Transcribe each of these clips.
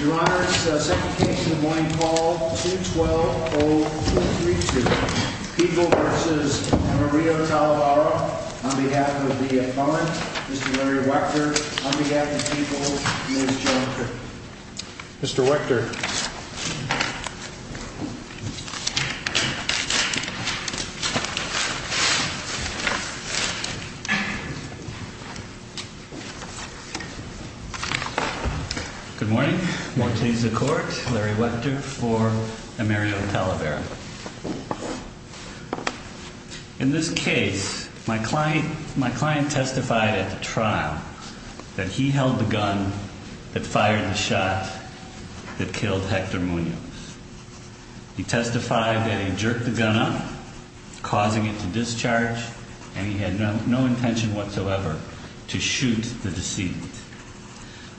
Your Honor, it's the second case of the morning, call 212-0232, Peeble v. Maria Talavera, on behalf of the defendant, Mr. Larry Wechter, on behalf of Peeble, Ms. Jonker. Mr. Wechter. Good morning. More to the court. Larry Wechter for Mario Talavera. In this case, my client testified at the trial that he held the gun that fired the shot that killed Hector Munoz. He testified that he jerked the gun up, causing it to discharge, and he had no intention whatsoever to shoot the decedent.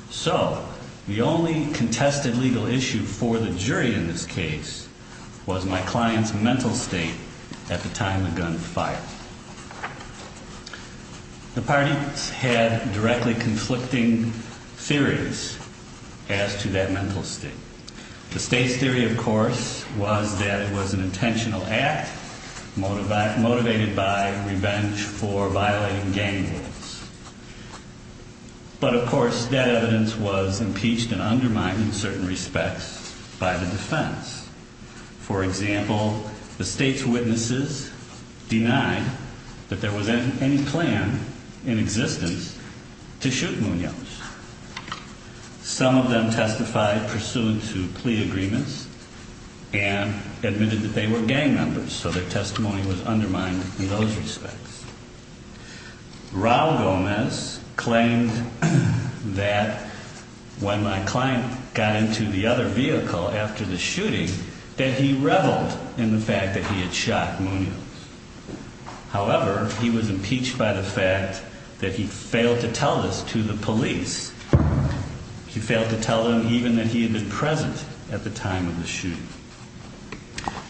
So the only contested legal issue for the jury in this case was my client's mental state at the time the gun fired. The parties had directly conflicting theories as to that mental state. The state's theory, of course, was that it was an intentional act motivated by revenge for violating gang rules. But, of course, that evidence was impeached and undermined in certain respects by the defense. For example, the state's witnesses denied that there was any plan in existence to shoot Munoz. Some of them testified pursuant to plea agreements and admitted that they were gang members, so their testimony was undermined in those respects. Raul Gomez claimed that when my client got into the other vehicle after the shooting, that he reveled in the fact that he had shot Munoz. However, he was impeached by the fact that he failed to tell this to the police. He failed to tell them even that he had been present at the time of the shooting.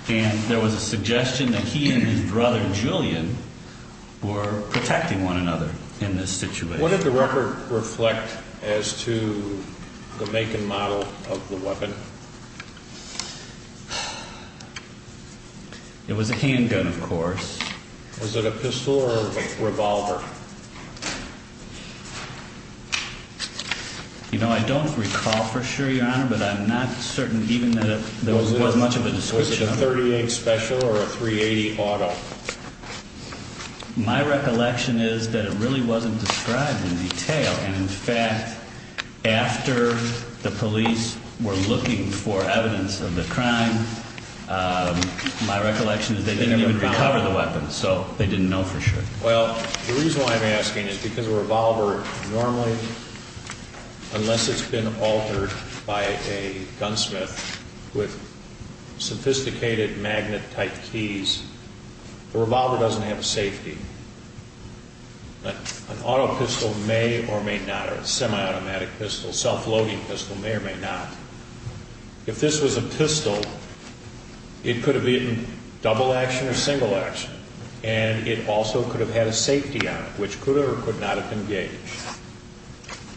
And there was a suggestion that he and his brother, Julian, were protecting one another in this situation. What did the record reflect as to the make and model of the weapon? It was a handgun, of course. Was it a pistol or a revolver? You know, I don't recall for sure, Your Honor, but I'm not certain even that there was much of a description. Was it a .38 special or a .380 auto? My recollection is that it really wasn't described in detail. And, in fact, after the police were looking for evidence of the crime, my recollection is they didn't even recover the weapon, so they didn't know for sure. Well, the reason why I'm asking is because a revolver normally, unless it's been altered by a gunsmith with sophisticated magnet-type keys, the revolver doesn't have safety. An auto pistol may or may not, or a semi-automatic pistol, self-loading pistol, may or may not. If this was a pistol, it could have been double action or single action, and it also could have had a safety on it, which could or could not have been gauged.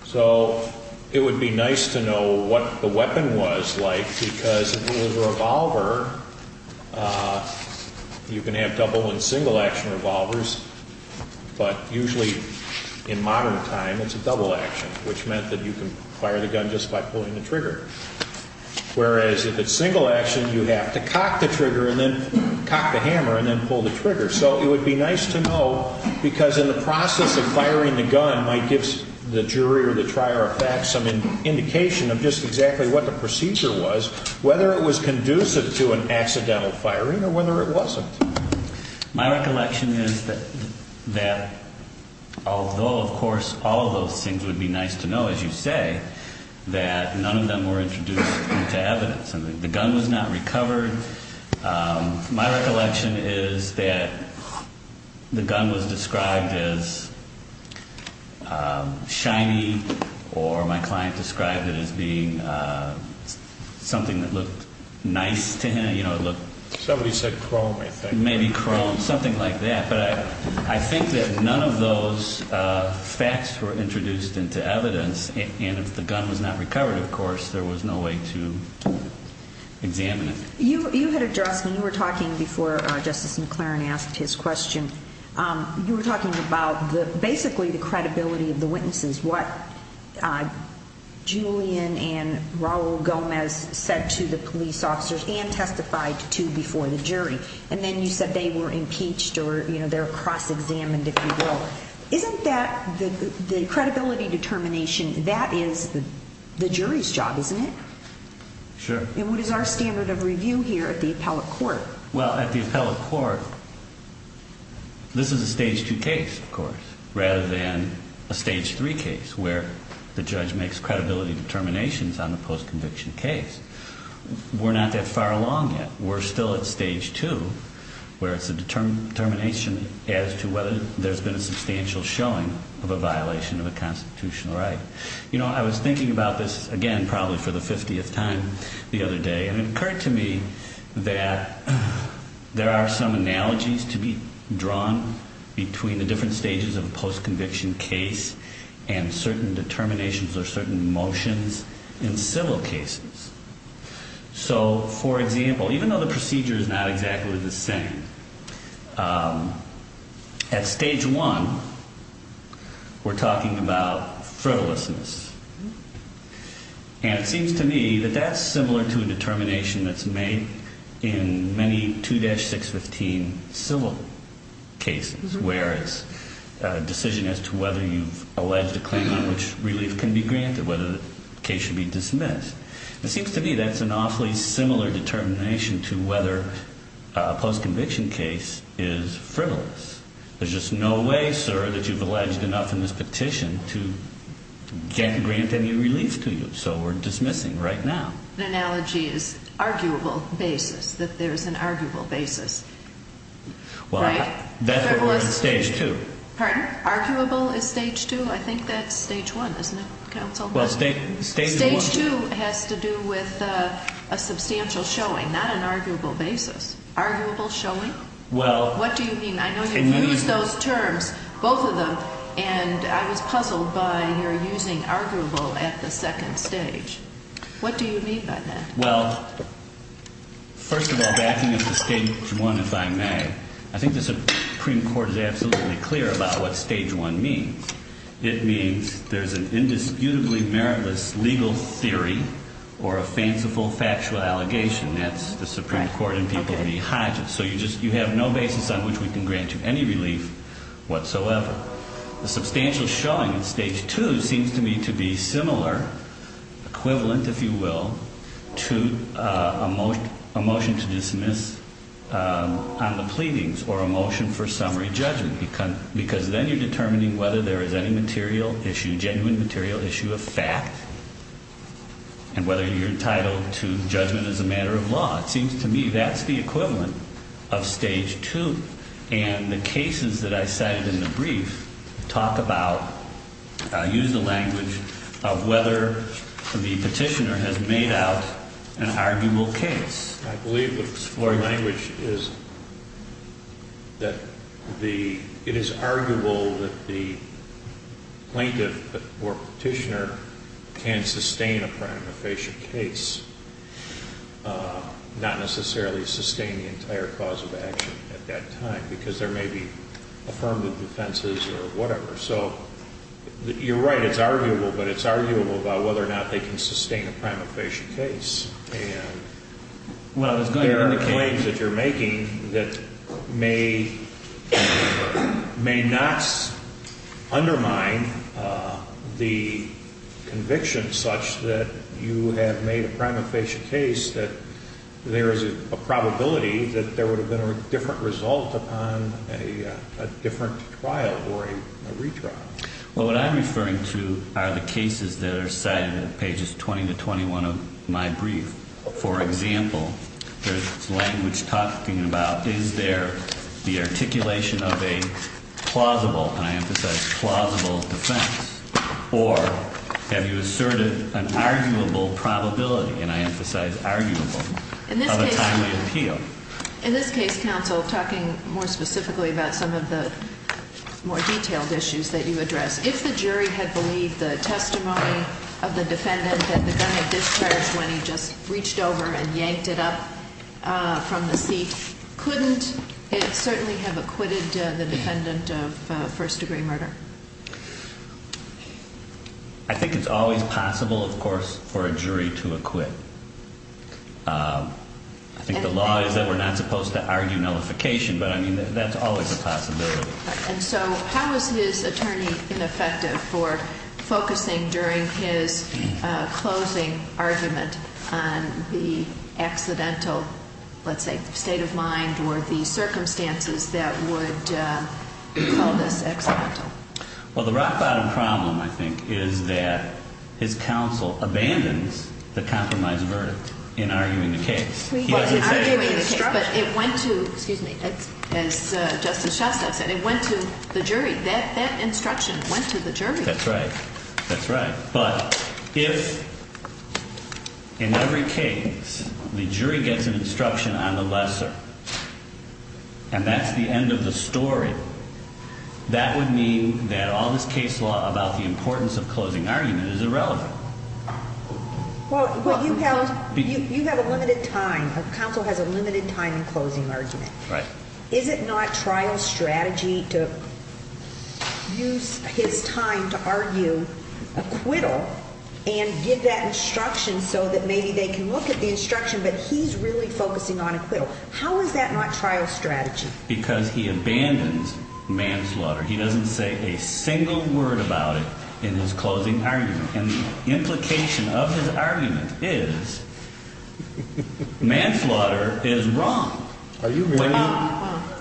So it would be nice to know what the weapon was like, because if it was a revolver, you can have double and single action revolvers, but usually in modern time, it's a double action, which meant that you can fire the gun just by pulling the trigger. Whereas if it's single action, you have to cock the trigger and then cock the hammer and then pull the trigger. So it would be nice to know, because in the process of firing the gun might give the jury or the trier of facts some indication of just exactly what the procedure was, whether it was conducive to an accidental firing or whether it wasn't. My recollection is that although, of course, all of those things would be nice to know, as you say, that none of them were introduced into evidence. The gun was not recovered. My recollection is that the gun was described as shiny, or my client described it as being something that looked nice to him. Somebody said chrome, I think. Maybe chrome, something like that. But I think that none of those facts were introduced into evidence, and if the gun was not recovered, of course, there was no way to examine it. You had addressed, when you were talking before Justice McLaren asked his question, you were talking about basically the credibility of the witnesses, what Julian and Raul Gomez said to the police officers and testified to before the jury. And then you said they were impeached or they're cross-examined, if you will. Isn't that the credibility determination, that is the jury's job, isn't it? Sure. And what is our standard of review here at the appellate court? Well, at the appellate court, this is a Stage 2 case, of course, rather than a Stage 3 case where the judge makes credibility determinations on the post-conviction case. We're not that far along yet. We're still at Stage 2, where it's a determination as to whether there's been a substantial showing of a violation of a constitutional right. You know, I was thinking about this, again, probably for the 50th time the other day, and it occurred to me that there are some analogies to be drawn between the different stages of a post-conviction case and certain determinations or certain motions in civil cases. So, for example, even though the procedure is not exactly the same, at Stage 1, we're talking about frivolousness. And it seems to me that that's similar to a determination that's made in many 2-615 civil cases, where it's a decision as to whether you've alleged a claim on which relief can be granted, whether the case should be dismissed. It seems to me that's an awfully similar determination to whether a post-conviction case is frivolous. There's just no way, sir, that you've alleged enough in this petition to grant any relief to you, so we're dismissing right now. The analogy is arguable basis, that there's an arguable basis. Well, that's what we're on Stage 2. Pardon? Arguable is Stage 2? I think that's Stage 1, isn't it, counsel? Stage 2 has to do with a substantial showing, not an arguable basis. Arguable showing? Well... What do you mean? I know you've used those terms, both of them, and I was puzzled by your using arguable at the second stage. What do you mean by that? Well, first of all, backing up to Stage 1, if I may, I think the Supreme Court is absolutely clear about what Stage 1 means. It means there's an indisputably meritless legal theory or a fanciful factual allegation. That's the Supreme Court in Peabody-Hodges. So you have no basis on which we can grant you any relief whatsoever. The substantial showing in Stage 2 seems to me to be similar, equivalent, if you will, to a motion to dismiss on the pleadings, or a motion for summary judgment, because then you're determining whether there is any material issue, genuine material issue of fact, and whether you're entitled to judgment as a matter of law. It seems to me that's the equivalent of Stage 2. And the cases that I cited in the brief talk about, use the language of whether the petitioner has made out an arguable case. I believe the floor language is that it is arguable that the plaintiff or petitioner can sustain a prima facie case, not necessarily sustain the entire cause of action at that time, because there may be affirmative defenses or whatever. So you're right, it's arguable, but it's arguable about whether or not they can sustain a prima facie case. And there are claims that you're making that may not undermine the conviction such that you have made a prima facie case, that there is a probability that there would have been a different result upon a different trial or a retrial. Well, what I'm referring to are the cases that are cited in pages 20 to 21 of my brief. For example, there's language talking about is there the articulation of a plausible, and I emphasize plausible, defense, or have you asserted an arguable probability, and I emphasize arguable, of a timely appeal? Thank you. In this case, counsel, talking more specifically about some of the more detailed issues that you addressed, if the jury had believed the testimony of the defendant that the gun had discharged when he just reached over and yanked it up from the seat, couldn't it certainly have acquitted the defendant of first-degree murder? I think it's always possible, of course, for a jury to acquit. I think the law is that we're not supposed to argue nullification, but I mean, that's always a possibility. And so how is his attorney ineffective for focusing during his closing argument on the accidental, let's say, state of mind or the circumstances that would call this accidental? Well, the rock-bottom problem, I think, is that his counsel abandons the compromise verdict in arguing the case. He doesn't say in the instruction. But it went to, excuse me, as Justice Shostak said, it went to the jury. That instruction went to the jury. That's right. That's right. But if in every case the jury gets an instruction on the lesser and that's the end of the story, that would mean that all this case law about the importance of closing argument is irrelevant. Well, you have a limited time. Counsel has a limited time in closing argument. Right. Is it not trial strategy to use his time to argue acquittal and give that instruction so that maybe they can look at the instruction, but he's really focusing on acquittal? How is that not trial strategy? Because he abandons manslaughter. He doesn't say a single word about it in his closing argument. And the implication of his argument is manslaughter is wrong. Are you married?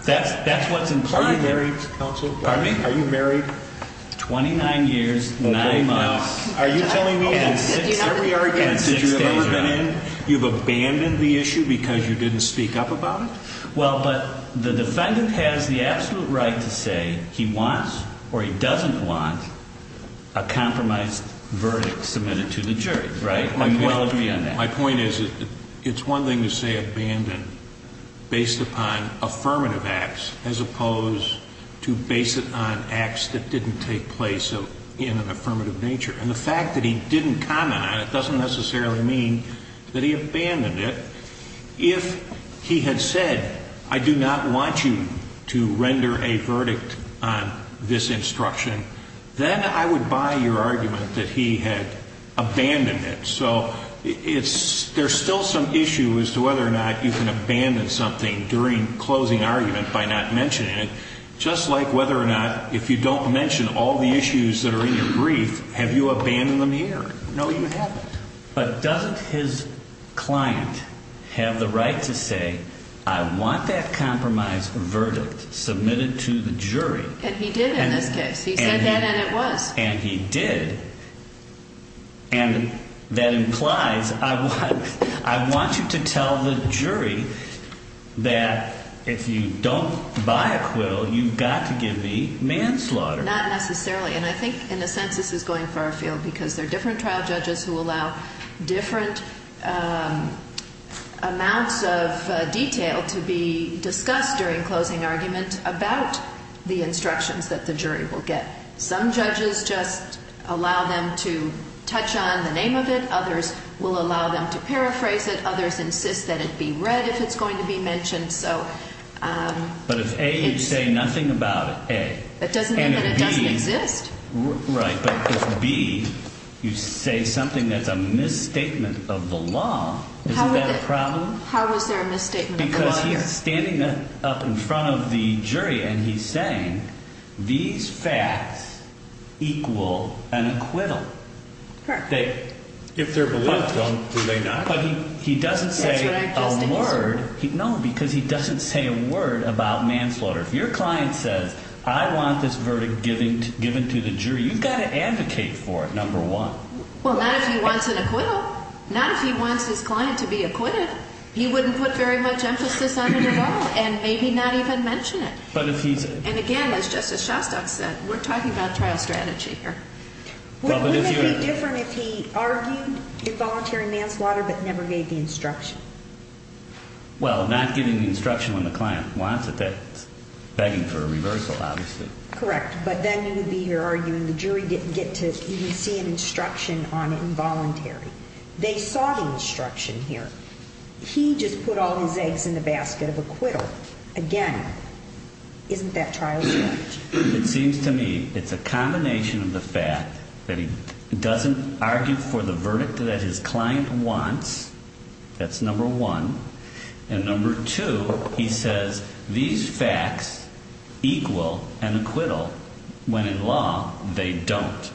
That's what's implied here. Are you married, Counsel? Pardon me? Are you married? 29 years, 9 months. Are you telling me that we are against it? You've abandoned the issue because you didn't speak up about it? Well, but the defendant has the absolute right to say he wants or he doesn't want a compromise verdict submitted to the jury. Right? And we'll agree on that. My point is it's one thing to say abandon based upon affirmative acts as opposed to base it on acts that didn't take place in an affirmative nature. And the fact that he didn't comment on it doesn't necessarily mean that he abandoned it. If he had said I do not want you to render a verdict on this instruction, then I would buy your argument that he had abandoned it. So there's still some issue as to whether or not you can abandon something during closing argument by not mentioning it. Just like whether or not if you don't mention all the issues that are in your brief, have you abandoned them here? No, you haven't. But doesn't his client have the right to say I want that compromise verdict submitted to the jury? And he did in this case. He said that and it was. And he did. And that implies I want you to tell the jury that if you don't buy acquittal, you've got to give me manslaughter. Not necessarily. And I think in a sense this is going far afield because there are different trial judges who allow different amounts of detail to be discussed during closing argument about the instructions that the jury will get. Some judges just allow them to touch on the name of it. Others will allow them to paraphrase it. Others insist that it be read if it's going to be mentioned. But if A, you say nothing about it, A. That doesn't mean that it doesn't exist. Right. But if B, you say something that's a misstatement of the law, isn't that a problem? How is there a misstatement of the law here? Because he's standing up in front of the jury and he's saying these facts equal an acquittal. If they're believed, are they not? But he doesn't say a word. No, because he doesn't say a word about manslaughter. If your client says I want this verdict given to the jury, you've got to advocate for it, number one. Well, not if he wants an acquittal. Not if he wants his client to be acquitted. He wouldn't put very much emphasis on it at all and maybe not even mention it. And again, as Justice Shostak said, we're talking about trial strategy here. Wouldn't it be different if he argued involuntary manslaughter but never gave the instruction? Well, not giving the instruction when the client wants it, that's begging for a reversal, obviously. Correct. But then you would be here arguing the jury didn't get to even see an instruction on involuntary. They saw the instruction here. He just put all his eggs in the basket of acquittal. Again, isn't that trial strategy? It seems to me it's a combination of the fact that he doesn't argue for the verdict that his client wants. That's number one. And number two, he says these facts equal an acquittal when in law they don't.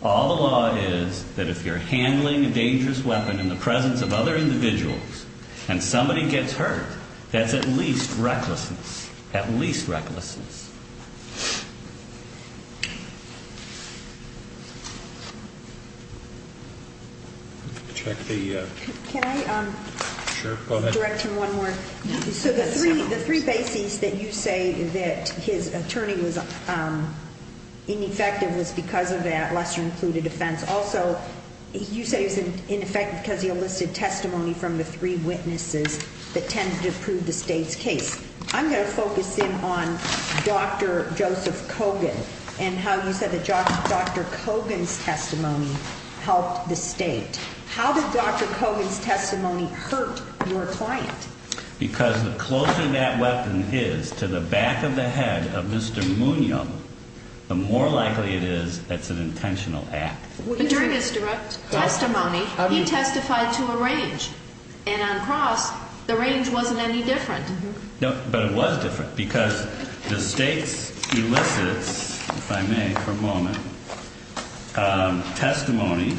All the law is that if you're handling a dangerous weapon in the presence of other individuals and somebody gets hurt, that's at least recklessness. At least recklessness. Can I direct you one more? So the three bases that you say that his attorney was ineffective was because of that lesser-included offense. Also, you said he was ineffective because he enlisted testimony from the three witnesses that tended to prove the state's case. I'm going to focus in on Dr. Joseph Kogan and how you said that Dr. Kogan's testimony helped the state. How did Dr. Kogan's testimony hurt your client? Because the closer that weapon is to the back of the head of Mr. Munoz, the more likely it is it's an intentional act. During his direct testimony, he testified to a range. And on cross, the range wasn't any different. But it was different because the state's elicits, if I may for a moment, testimony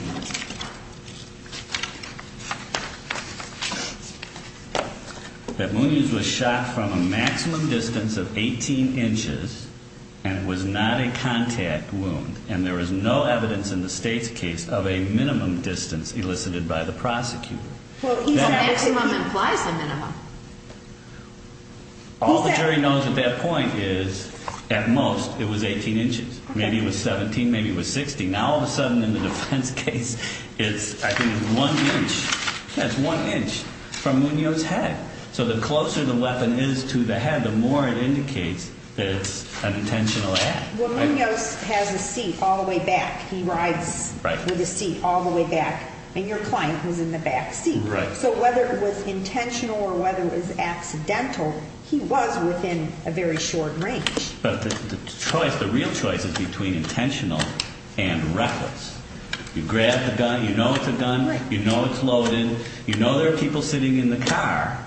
that Munoz was shot from a maximum distance of 18 inches and it was not a contact wound and there was no evidence in the state's case of a minimum distance elicited by the prosecutor. Well, maximum implies a minimum. All the jury knows at that point is at most it was 18 inches. Maybe it was 17, maybe it was 60. Now all of a sudden in the defense case, it's I think one inch. Yeah, it's one inch from Munoz's head. So the closer the weapon is to the head, the more it indicates that it's an intentional act. Well, Munoz has a seat all the way back. He rides with his seat all the way back. And your client was in the back seat. So whether it was intentional or whether it was accidental, he was within a very short range. But the choice, the real choice is between intentional and reckless. You grab the gun. You know it's a gun. You know it's loaded. You know there are people sitting in the car.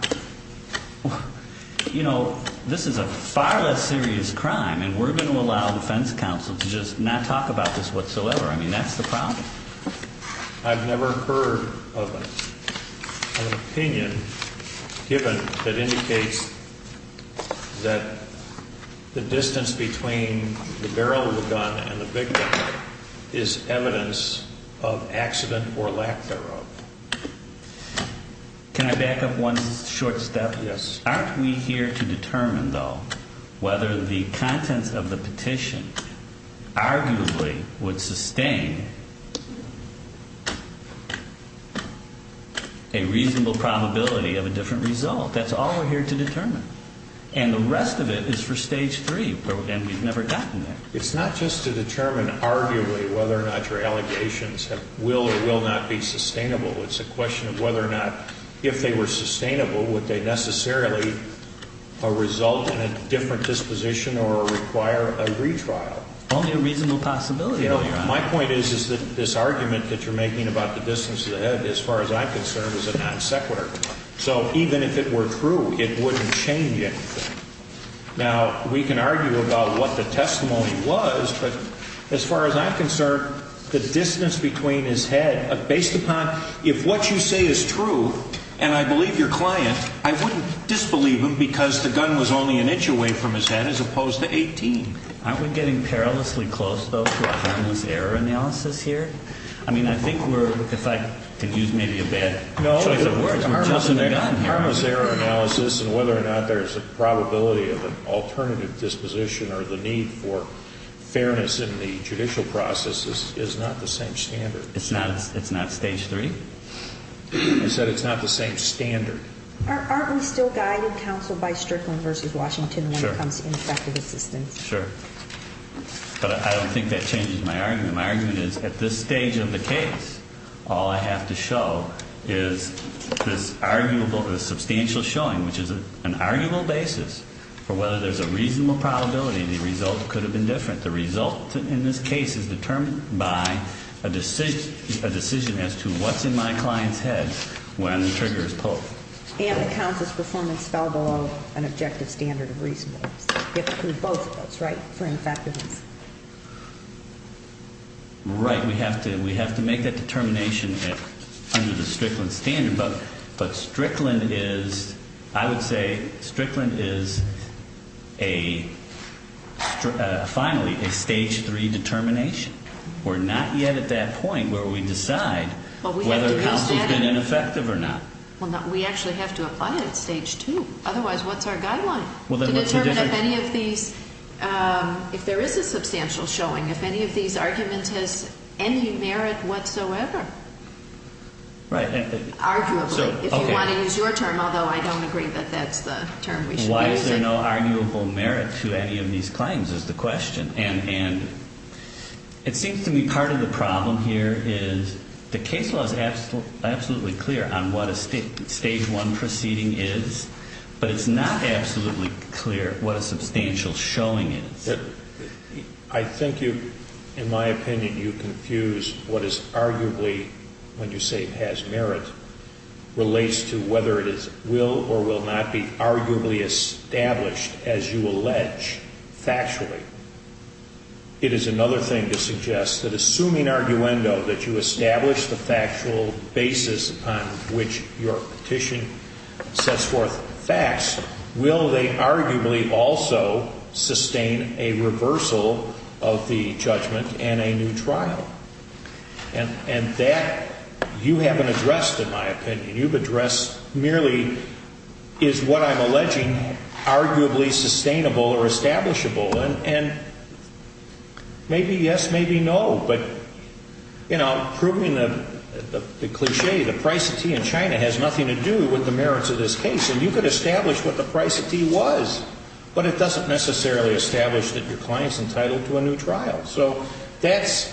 You know, this is a far less serious crime, and we're going to allow defense counsel to just not talk about this whatsoever. I mean, that's the problem. I've never heard of an opinion given that indicates that the distance between the barrel of the gun and the victim is evidence of accident or lack thereof. Can I back up one short step? Yes. Aren't we here to determine, though, whether the contents of the petition arguably would sustain a reasonable probability of a different result? That's all we're here to determine. And the rest of it is for Stage 3, and we've never gotten there. It's not just to determine arguably whether or not your allegations will or will not be sustainable. It's a question of whether or not, if they were sustainable, would they necessarily result in a different disposition or require a retrial? Only a reasonable possibility, Your Honor. My point is that this argument that you're making about the distance to the head, as far as I'm concerned, is a non sequitur. So even if it were true, it wouldn't change anything. Now, we can argue about what the testimony was, but as far as I'm concerned, the distance between his head, based upon if what you say is true, and I believe your client, I wouldn't disbelieve him because the gun was only an inch away from his head as opposed to 18. Aren't we getting perilously close, though, to a harmless error analysis here? I mean, I think we're, if I can use maybe a bad choice of words, we're just in the gun here. The difference in whether or not there's a probability of an alternative disposition or the need for fairness in the judicial process is not the same standard. It's not stage three? I said it's not the same standard. Aren't we still guided, counsel, by Strickland v. Washington when it comes to ineffective assistance? Sure. But I don't think that changes my argument. My argument is at this stage of the case, all I have to show is this arguable, this substantial showing, which is an arguable basis for whether there's a reasonable probability the result could have been different. The result in this case is determined by a decision as to what's in my client's head when the trigger is pulled. And the counsel's performance fell below an objective standard of reasonableness. You have to prove both of those, right, for ineffectiveness? Right. We have to make that determination under the Strickland standard. But Strickland is, I would say, Strickland is a, finally, a stage three determination. We're not yet at that point where we decide whether counsel's been ineffective or not. Well, we actually have to apply it at stage two. Otherwise, what's our guideline? To determine if any of these, if there is a substantial showing, if any of these arguments has any merit whatsoever. Right. Arguably, if you want to use your term, although I don't agree that that's the term we should use. Why is there no arguable merit to any of these claims is the question. And it seems to me part of the problem here is the case law is absolutely clear on what a stage one proceeding is. But it's not absolutely clear what a substantial showing is. I think you, in my opinion, you confuse what is arguably, when you say has merit, relates to whether it is will or will not be arguably established as you allege factually. It is another thing to suggest that assuming arguendo, that you establish the factual basis upon which your petition sets forth facts, will they arguably also sustain a reversal of the judgment and a new trial? And that you haven't addressed, in my opinion. You've addressed merely is what I'm alleging arguably sustainable or establishable. And maybe yes, maybe no. But, you know, proving the cliche, the price of tea in China has nothing to do with the merits of this case. And you could establish what the price of tea was. But it doesn't necessarily establish that your client's entitled to a new trial. So that's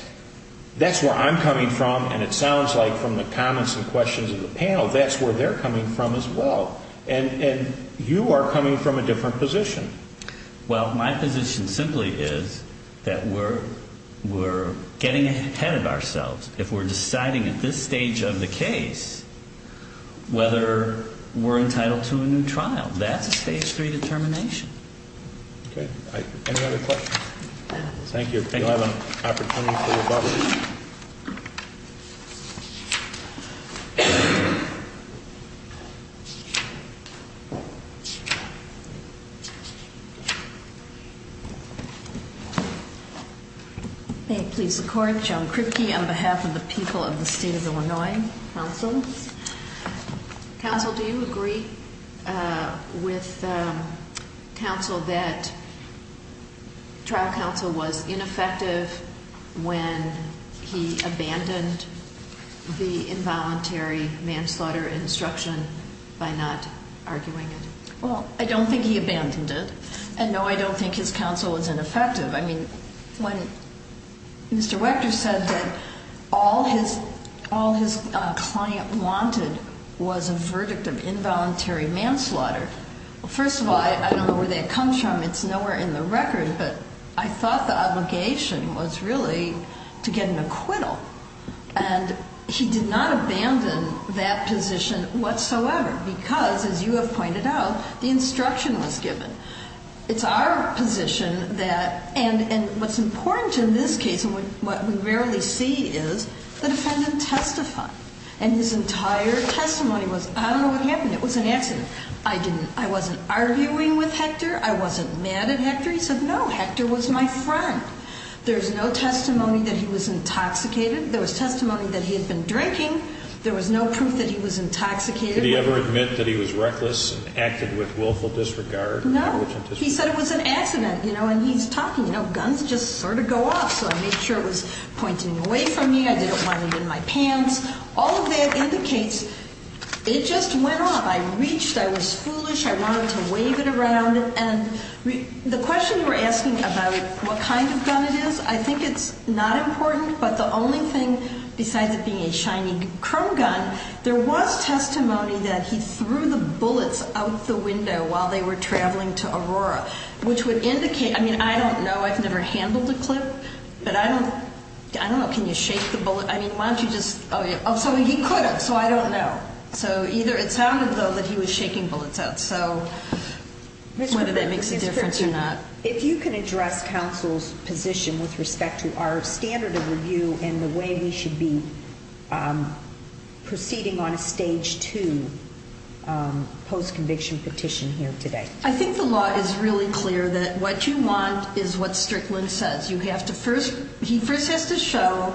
where I'm coming from. And it sounds like from the comments and questions of the panel, that's where they're coming from as well. And you are coming from a different position. Well, my position simply is that we're getting ahead of ourselves if we're deciding at this stage of the case whether we're entitled to a new trial. That's a stage three determination. Okay. Any other questions? Thank you. May it please the Court. Joan Kripke on behalf of the people of the state of Illinois. Counsel. Counsel, do you agree with counsel that trial counsel was ineffective when he abandoned the involuntary manslaughter instruction by not arguing it? Well, I don't think he abandoned it. And, no, I don't think his counsel was ineffective. I mean, when Mr. Wechter said that all his client wanted was a verdict of involuntary manslaughter, first of all, I don't know where that comes from. It's nowhere in the record. But I thought the obligation was really to get an acquittal. And he did not abandon that position whatsoever because, as you have pointed out, the instruction was given. It's our position that, and what's important in this case and what we rarely see is the defendant testified. And his entire testimony was, I don't know what happened. It was an accident. I didn't, I wasn't arguing with Hector. I wasn't mad at Hector. He said, no, Hector was my friend. There's no testimony that he was intoxicated. There was testimony that he had been drinking. There was no proof that he was intoxicated. Did he ever admit that he was reckless and acted with willful disregard? No. He said it was an accident, you know, and he's talking, you know, guns just sort of go off. So I made sure it was pointing away from me. I didn't want it in my pants. All of that indicates it just went off. I reached. I was foolish. I wanted to wave it around. And the question you were asking about what kind of gun it is, I think it's not important. But the only thing besides it being a shiny chrome gun, there was testimony that he threw the bullets out the window while they were traveling to Aurora, which would indicate. I mean, I don't know. I've never handled a clip, but I don't know. Can you shake the bullet? I mean, why don't you just. Oh, so he could have. So I don't know. So either it sounded, though, that he was shaking bullets out. So whether that makes a difference or not. If you can address counsel's position with respect to our standard of review and the way we should be proceeding on a stage to post conviction petition here today. I think the law is really clear that what you want is what Strickland says. You have to first. He first has to show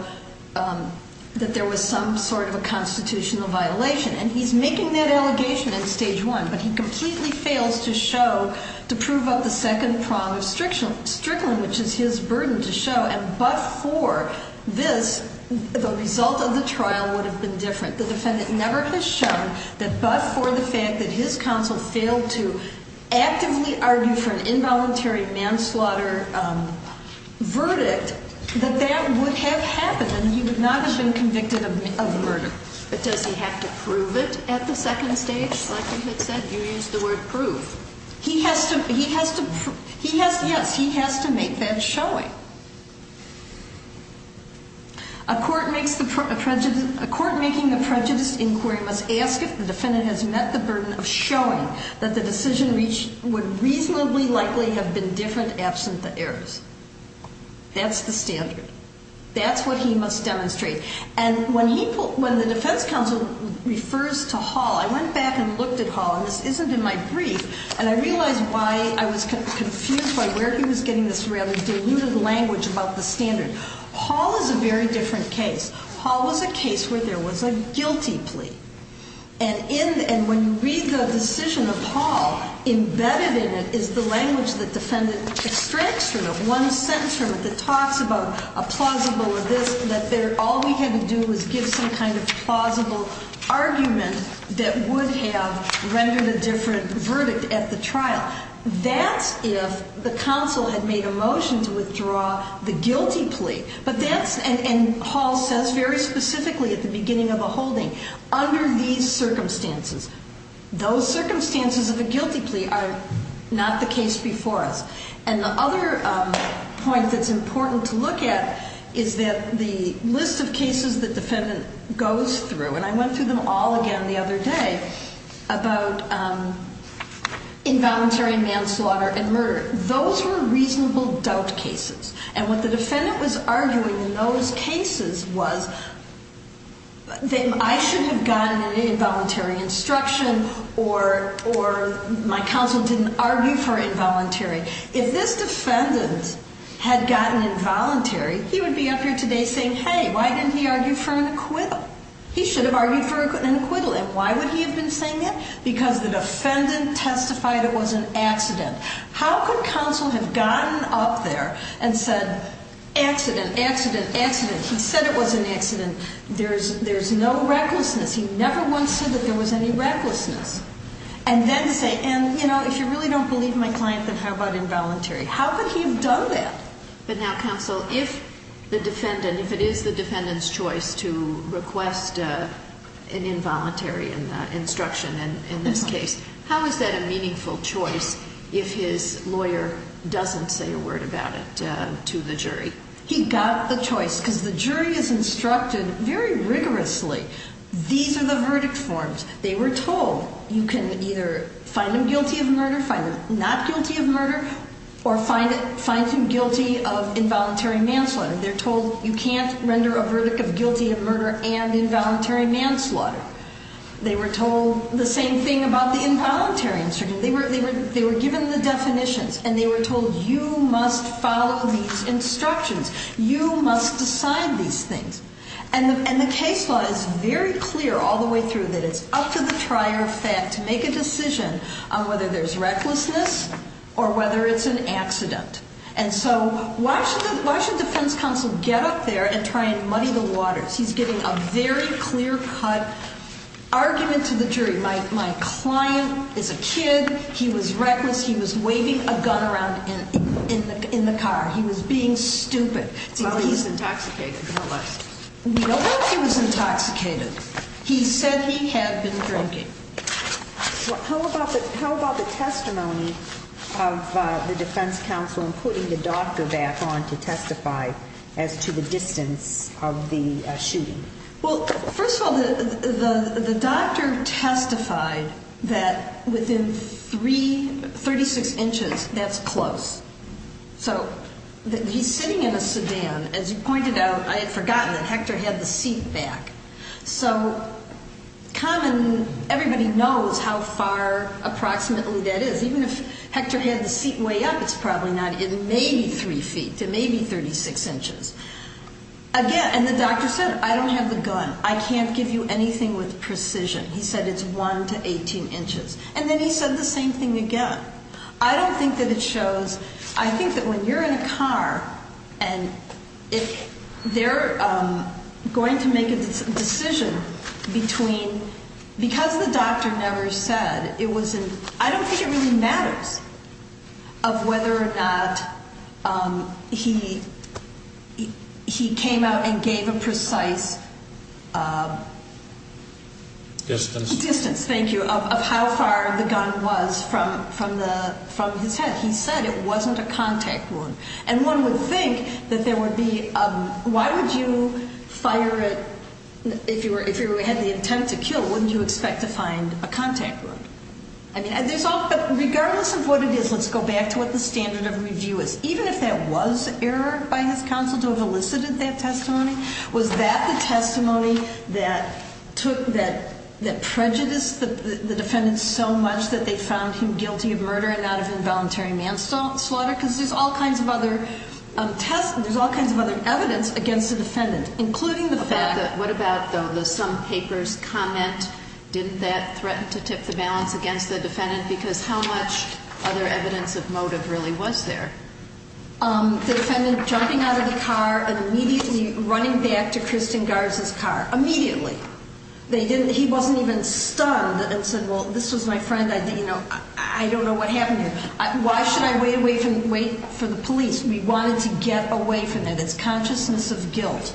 that there was some sort of a constitutional violation, and he's making that allegation in stage one. But he completely fails to show, to prove up the second prong of Strickland, which is his burden to show. And but for this, the result of the trial would have been different. The defendant never has shown that but for the fact that his counsel failed to actively argue for an involuntary manslaughter verdict, that that would have happened. And he would not have been convicted of murder. But does he have to prove it at the second stage? Like you had said, you used the word prove. He has to. He has to. He has. Yes, he has to make that showing. A court makes the prejudice. A court making the prejudice inquiry must ask if the defendant has met the burden of showing that the decision reached would reasonably likely have been different absent the errors. That's the standard. That's what he must demonstrate. And when the defense counsel refers to Hall, I went back and looked at Hall, and this isn't in my brief, and I realized why I was confused by where he was getting this rather diluted language about the standard. Hall is a very different case. Hall was a case where there was a guilty plea. And when you read the decision of Hall, embedded in it is the language that defendant extracts from it, one sentence from it that talks about a plausible or this, that all we had to do was give some kind of plausible argument that would have rendered a different verdict at the trial. That's if the counsel had made a motion to withdraw the guilty plea. But that's, and Hall says very specifically at the beginning of the holding, under these circumstances, those circumstances of a guilty plea are not the case before us. And the other point that's important to look at is that the list of cases the defendant goes through, and I went through them all again the other day, about involuntary manslaughter and murder. Those were reasonable doubt cases. And what the defendant was arguing in those cases was that I should have gotten an involuntary instruction or my counsel didn't argue for involuntary. If this defendant had gotten involuntary, he would be up here today saying, hey, why didn't he argue for an acquittal? He should have argued for an acquittal. And why would he have been saying that? Because the defendant testified it was an accident. How could counsel have gotten up there and said, accident, accident, accident. He said it was an accident. There's no recklessness. He never once said that there was any recklessness. And then say, and, you know, if you really don't believe my client, then how about involuntary? How could he have done that? But now, counsel, if the defendant, if it is the defendant's choice to request an involuntary instruction in this case, how is that a meaningful choice if his lawyer doesn't say a word about it to the jury? He got the choice because the jury is instructed very rigorously. These are the verdict forms. They were told you can either find them guilty of murder, find them not guilty of murder, or find them guilty of involuntary manslaughter. They're told you can't render a verdict of guilty of murder and involuntary manslaughter. They were told the same thing about the involuntary instruction. They were given the definitions, and they were told you must follow these instructions. You must decide these things. And the case law is very clear all the way through that it's up to the trier of fact to make a decision on whether there's recklessness or whether it's an accident. And so why should the defense counsel get up there and try and muddy the waters? He's giving a very clear-cut argument to the jury. My client is a kid. He was reckless. He was waving a gun around in the car. He was being stupid. Well, he was intoxicated, no less. We don't know if he was intoxicated. He said he had been drinking. How about the testimony of the defense counsel in putting the doctor back on to testify as to the distance of the shooting? Well, first of all, the doctor testified that within 36 inches, that's close. So he's sitting in a sedan. As you pointed out, I had forgotten that Hector had the seat back. So common, everybody knows how far approximately that is. Even if Hector had the seat way up, it's probably not. It may be 3 feet. It may be 36 inches. Again, and the doctor said, I don't have the gun. I can't give you anything with precision. He said it's 1 to 18 inches. And then he said the same thing again. I don't think that it shows. I think that when you're in a car and they're going to make a decision between, because the doctor never said, it was in, I don't think it really matters of whether or not he came out and gave a precise distance, thank you, of how far the gun was from his head. He said it wasn't a contact wound. And one would think that there would be, why would you fire it, if you had the intent to kill, wouldn't you expect to find a contact wound? But regardless of what it is, let's go back to what the standard of review is. Even if that was error by his counsel to have elicited that testimony, was that the testimony that took, that prejudiced the defendant so much that they found him guilty of murder and not of involuntary manslaughter? Because there's all kinds of other tests and there's all kinds of other evidence against the defendant, including the fact that... What about, though, the some papers comment, didn't that threaten to tip the balance against the defendant? Because how much other evidence of motive really was there? The defendant jumping out of the car and immediately running back to Kristin Garza's car. Immediately. They didn't, he wasn't even stunned and said, well, this was my friend, I didn't know, I don't know what happened to him. Why should I wait for the police? We wanted to get away from that. It's consciousness of guilt.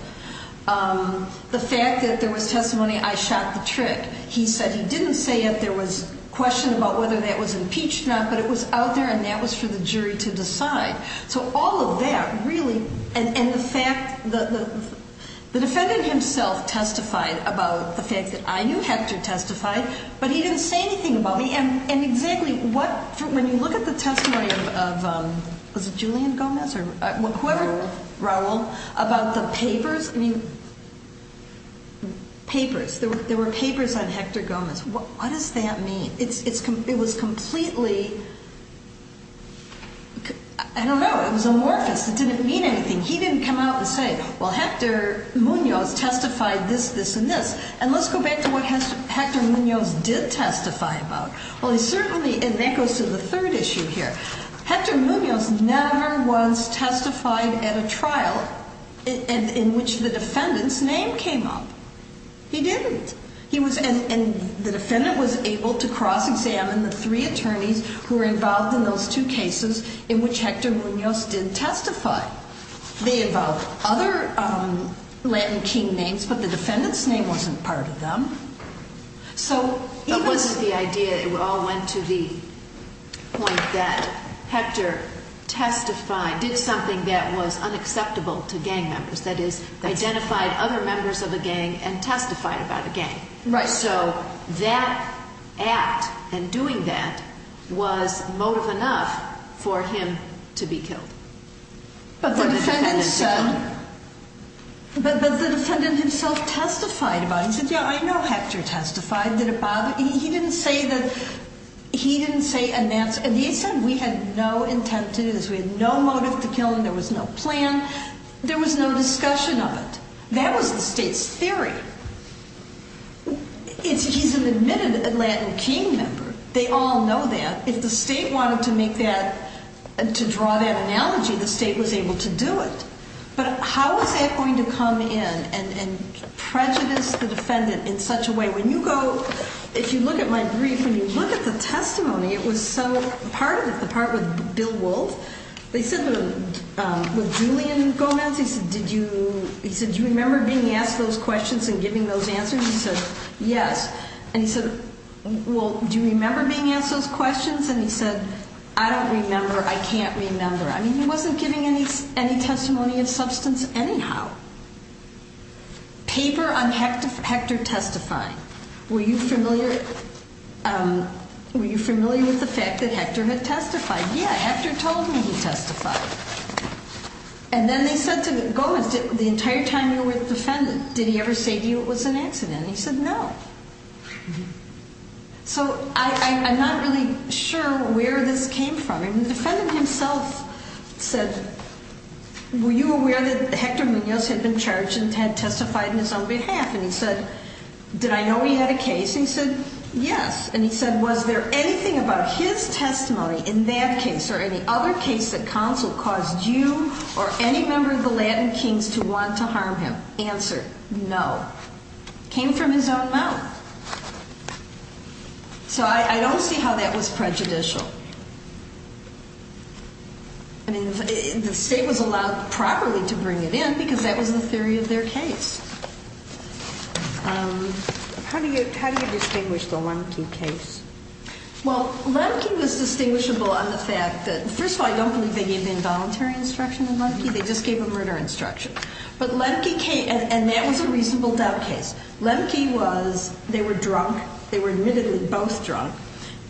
The fact that there was testimony, I shot the trick. He said he didn't say that there was question about whether that was impeached or not, but it was out there and that was for the jury to decide. So all of that really, and the fact, the defendant himself testified about the fact that I knew Hector testified, but he didn't say anything about me. And exactly what, when you look at the testimony of Julian Gomez or whoever, Raul, about the papers, I mean, papers. There were papers on Hector Gomez. What does that mean? It was completely, I don't know, it was amorphous. It didn't mean anything. He didn't come out and say, well, Hector Muñoz testified this, this, and this. And let's go back to what Hector Muñoz did testify about. Well, he certainly, and that goes to the third issue here. Hector Muñoz never was testified at a trial in which the defendant's name came up. He didn't. He was, and the defendant was able to cross-examine the three attorneys who were involved in those two cases in which Hector Muñoz did testify. They involved other Latin king names, but the defendant's name wasn't part of them. So it wasn't the idea, it all went to the point that Hector testified, did something that was unacceptable to gang members. That is, identified other members of a gang and testified about a gang. Right. So that act and doing that was motive enough for him to be killed. But the defendant said, but the defendant himself testified about it. He said, yeah, I know Hector testified. Did it bother, he didn't say that, he didn't say, and he said we had no intent to do this. We had no motive to kill him. There was no plan. There was no discussion of it. That was the state's theory. He's an admitted Latin king member. They all know that. If the state wanted to make that, to draw that analogy, the state was able to do it. But how was that going to come in and prejudice the defendant in such a way? When you go, if you look at my brief, when you look at the testimony, it was so, part of it, the part with Bill Wolfe, they said, with Julian Gomez, he said, do you remember being asked those questions and giving those answers? He said, yes. And he said, well, do you remember being asked those questions? And he said, I don't remember. I can't remember. I mean, he wasn't giving any testimony of substance anyhow. Paper on Hector testifying. Were you familiar with the fact that Hector had testified? Yeah, Hector told me he testified. And then they said to Gomez, the entire time you were with the defendant, did he ever say to you it was an accident? He said, no. So I'm not really sure where this came from. And the defendant himself said, were you aware that Hector Munoz had been charged and had testified on his own behalf? And he said, did I know he had a case? And he said, yes. And he said, was there anything about his testimony in that case or any other case that counsel caused you or any member of the Latin Kings to want to harm him? Answer, no. Came from his own mouth. So I don't see how that was prejudicial. I mean, the state was allowed properly to bring it in because that was the theory of their case. How do you distinguish the Lemke case? Well, Lemke was distinguishable on the fact that, first of all, I don't believe they gave involuntary instruction in Lemke. They just gave a murder instruction. But Lemke came, and that was a reasonable doubt case. Lemke was, they were drunk. They were admittedly both drunk.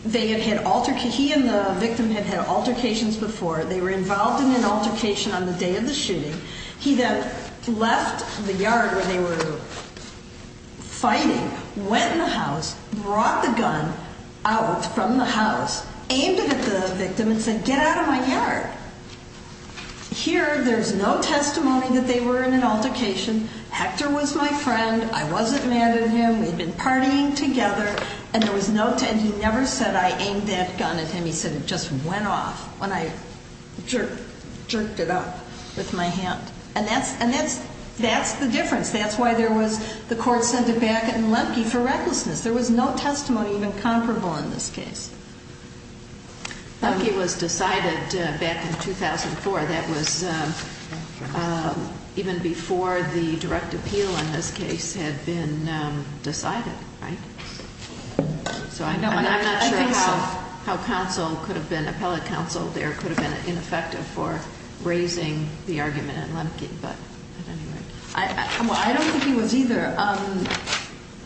They had had altercations. He and the victim had had altercations before. They were involved in an altercation on the day of the shooting. He then left the yard where they were fighting, went in the house, brought the gun out from the house, aimed it at the victim, and said, get out of my yard. Here, there's no testimony that they were in an altercation. Hector was my friend. I wasn't mad at him. We'd been partying together, and there was no, and he never said I aimed that gun at him. He said it just went off when I jerked it up with my hand. And that's the difference. That's why there was, the court sent it back in Lemke for recklessness. There was no testimony even comparable in this case. Lemke was decided back in 2004. That was even before the direct appeal in this case had been decided, right? So I'm not sure how counsel could have been, appellate counsel there could have been ineffective for raising the argument in Lemke, but at any rate. I don't think he was either.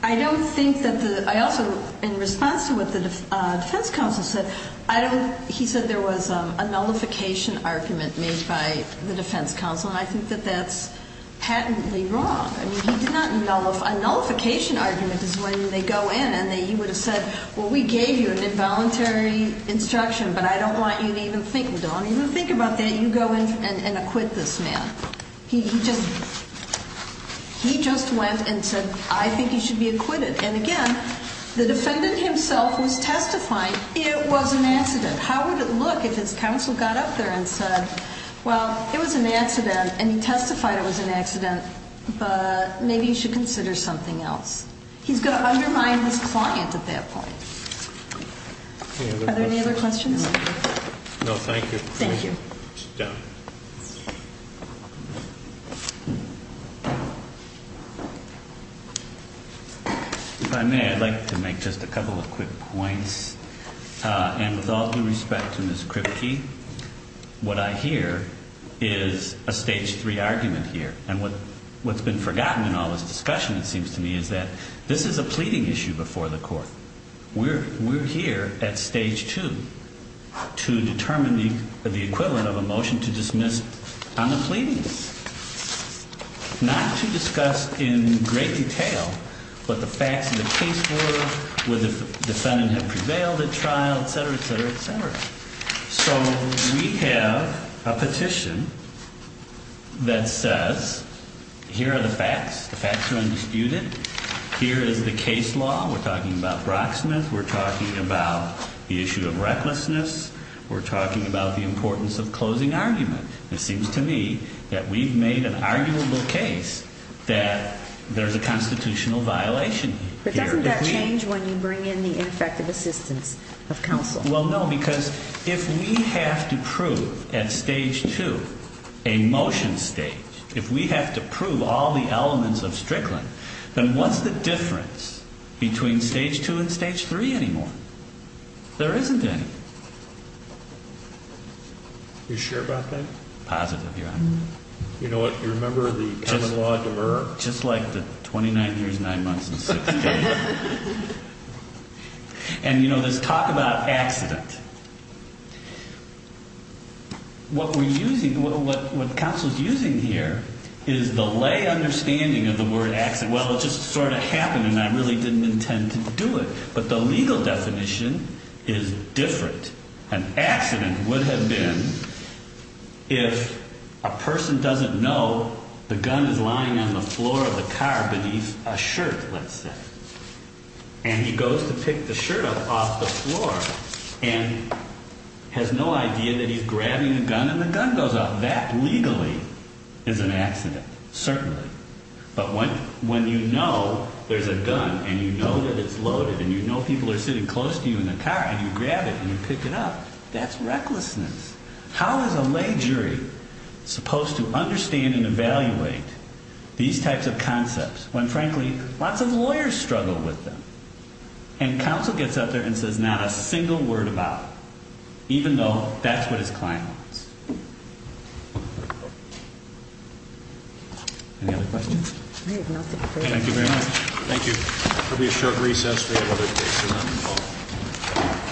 I don't think that the, I also, in response to what the defense counsel said, I don't, he said there was a nullification argument made by the defense counsel, and I think that that's patently wrong. I mean, he did not nullify, a nullification argument is when they go in and you would have said, well, we gave you an involuntary instruction, but I don't want you to even think, don't even think about that. You go in and acquit this man. He just, he just went and said, I think he should be acquitted. And again, the defendant himself was testifying. It was an accident. How would it look if his counsel got up there and said, well, it was an accident and he testified it was an accident, but maybe you should consider something else. He's going to undermine his client at that point. Are there any other questions? No, thank you. Thank you. If I may, I'd like to make just a couple of quick points. And with all due respect to Ms. Kripke, what I hear is a stage three argument here. And what's been forgotten in all this discussion, it seems to me, is that this is a pleading issue before the court. We're here at stage two to determine the equivalent of a motion to dismiss on the pleadings. Not to discuss in great detail what the facts of the case were, whether the defendant had prevailed at trial, et cetera, et cetera, et cetera. So we have a petition that says, here are the facts. The facts are undisputed. Here is the case law. We're talking about Brocksmith. We're talking about the issue of recklessness. We're talking about the importance of closing argument. It seems to me that we've made an arguable case that there's a constitutional violation here. But doesn't that change when you bring in the ineffective assistance of counsel? Well, no, because if we have to prove at stage two a motion stage, if we have to prove all the elements of Strickland, then what's the difference between stage two and stage three anymore? There isn't any. You sure about that? Positive, Your Honor. You know what? You remember the common law of demerit? Just like the 29 years, 9 months, and 6 days. And, you know, this talk about accident. What we're using, what counsel's using here is the lay understanding of the word accident. Well, it just sort of happened, and I really didn't intend to do it. But the legal definition is different. An accident would have been if a person doesn't know the gun is lying on the floor of the car beneath a shirt, let's say. And he goes to pick the shirt up off the floor and has no idea that he's grabbing a gun, and the gun goes off. That legally is an accident, certainly. But when you know there's a gun, and you know that it's loaded, and you know people are sitting close to you in the car, and you grab it and you pick it up, that's recklessness. How is a lay jury supposed to understand and evaluate these types of concepts when, frankly, lots of lawyers struggle with them? And counsel gets up there and says not a single word about it, even though that's what his client wants. Any other questions? Thank you very much. Thank you. That'll be a short recess. We have other cases on the call.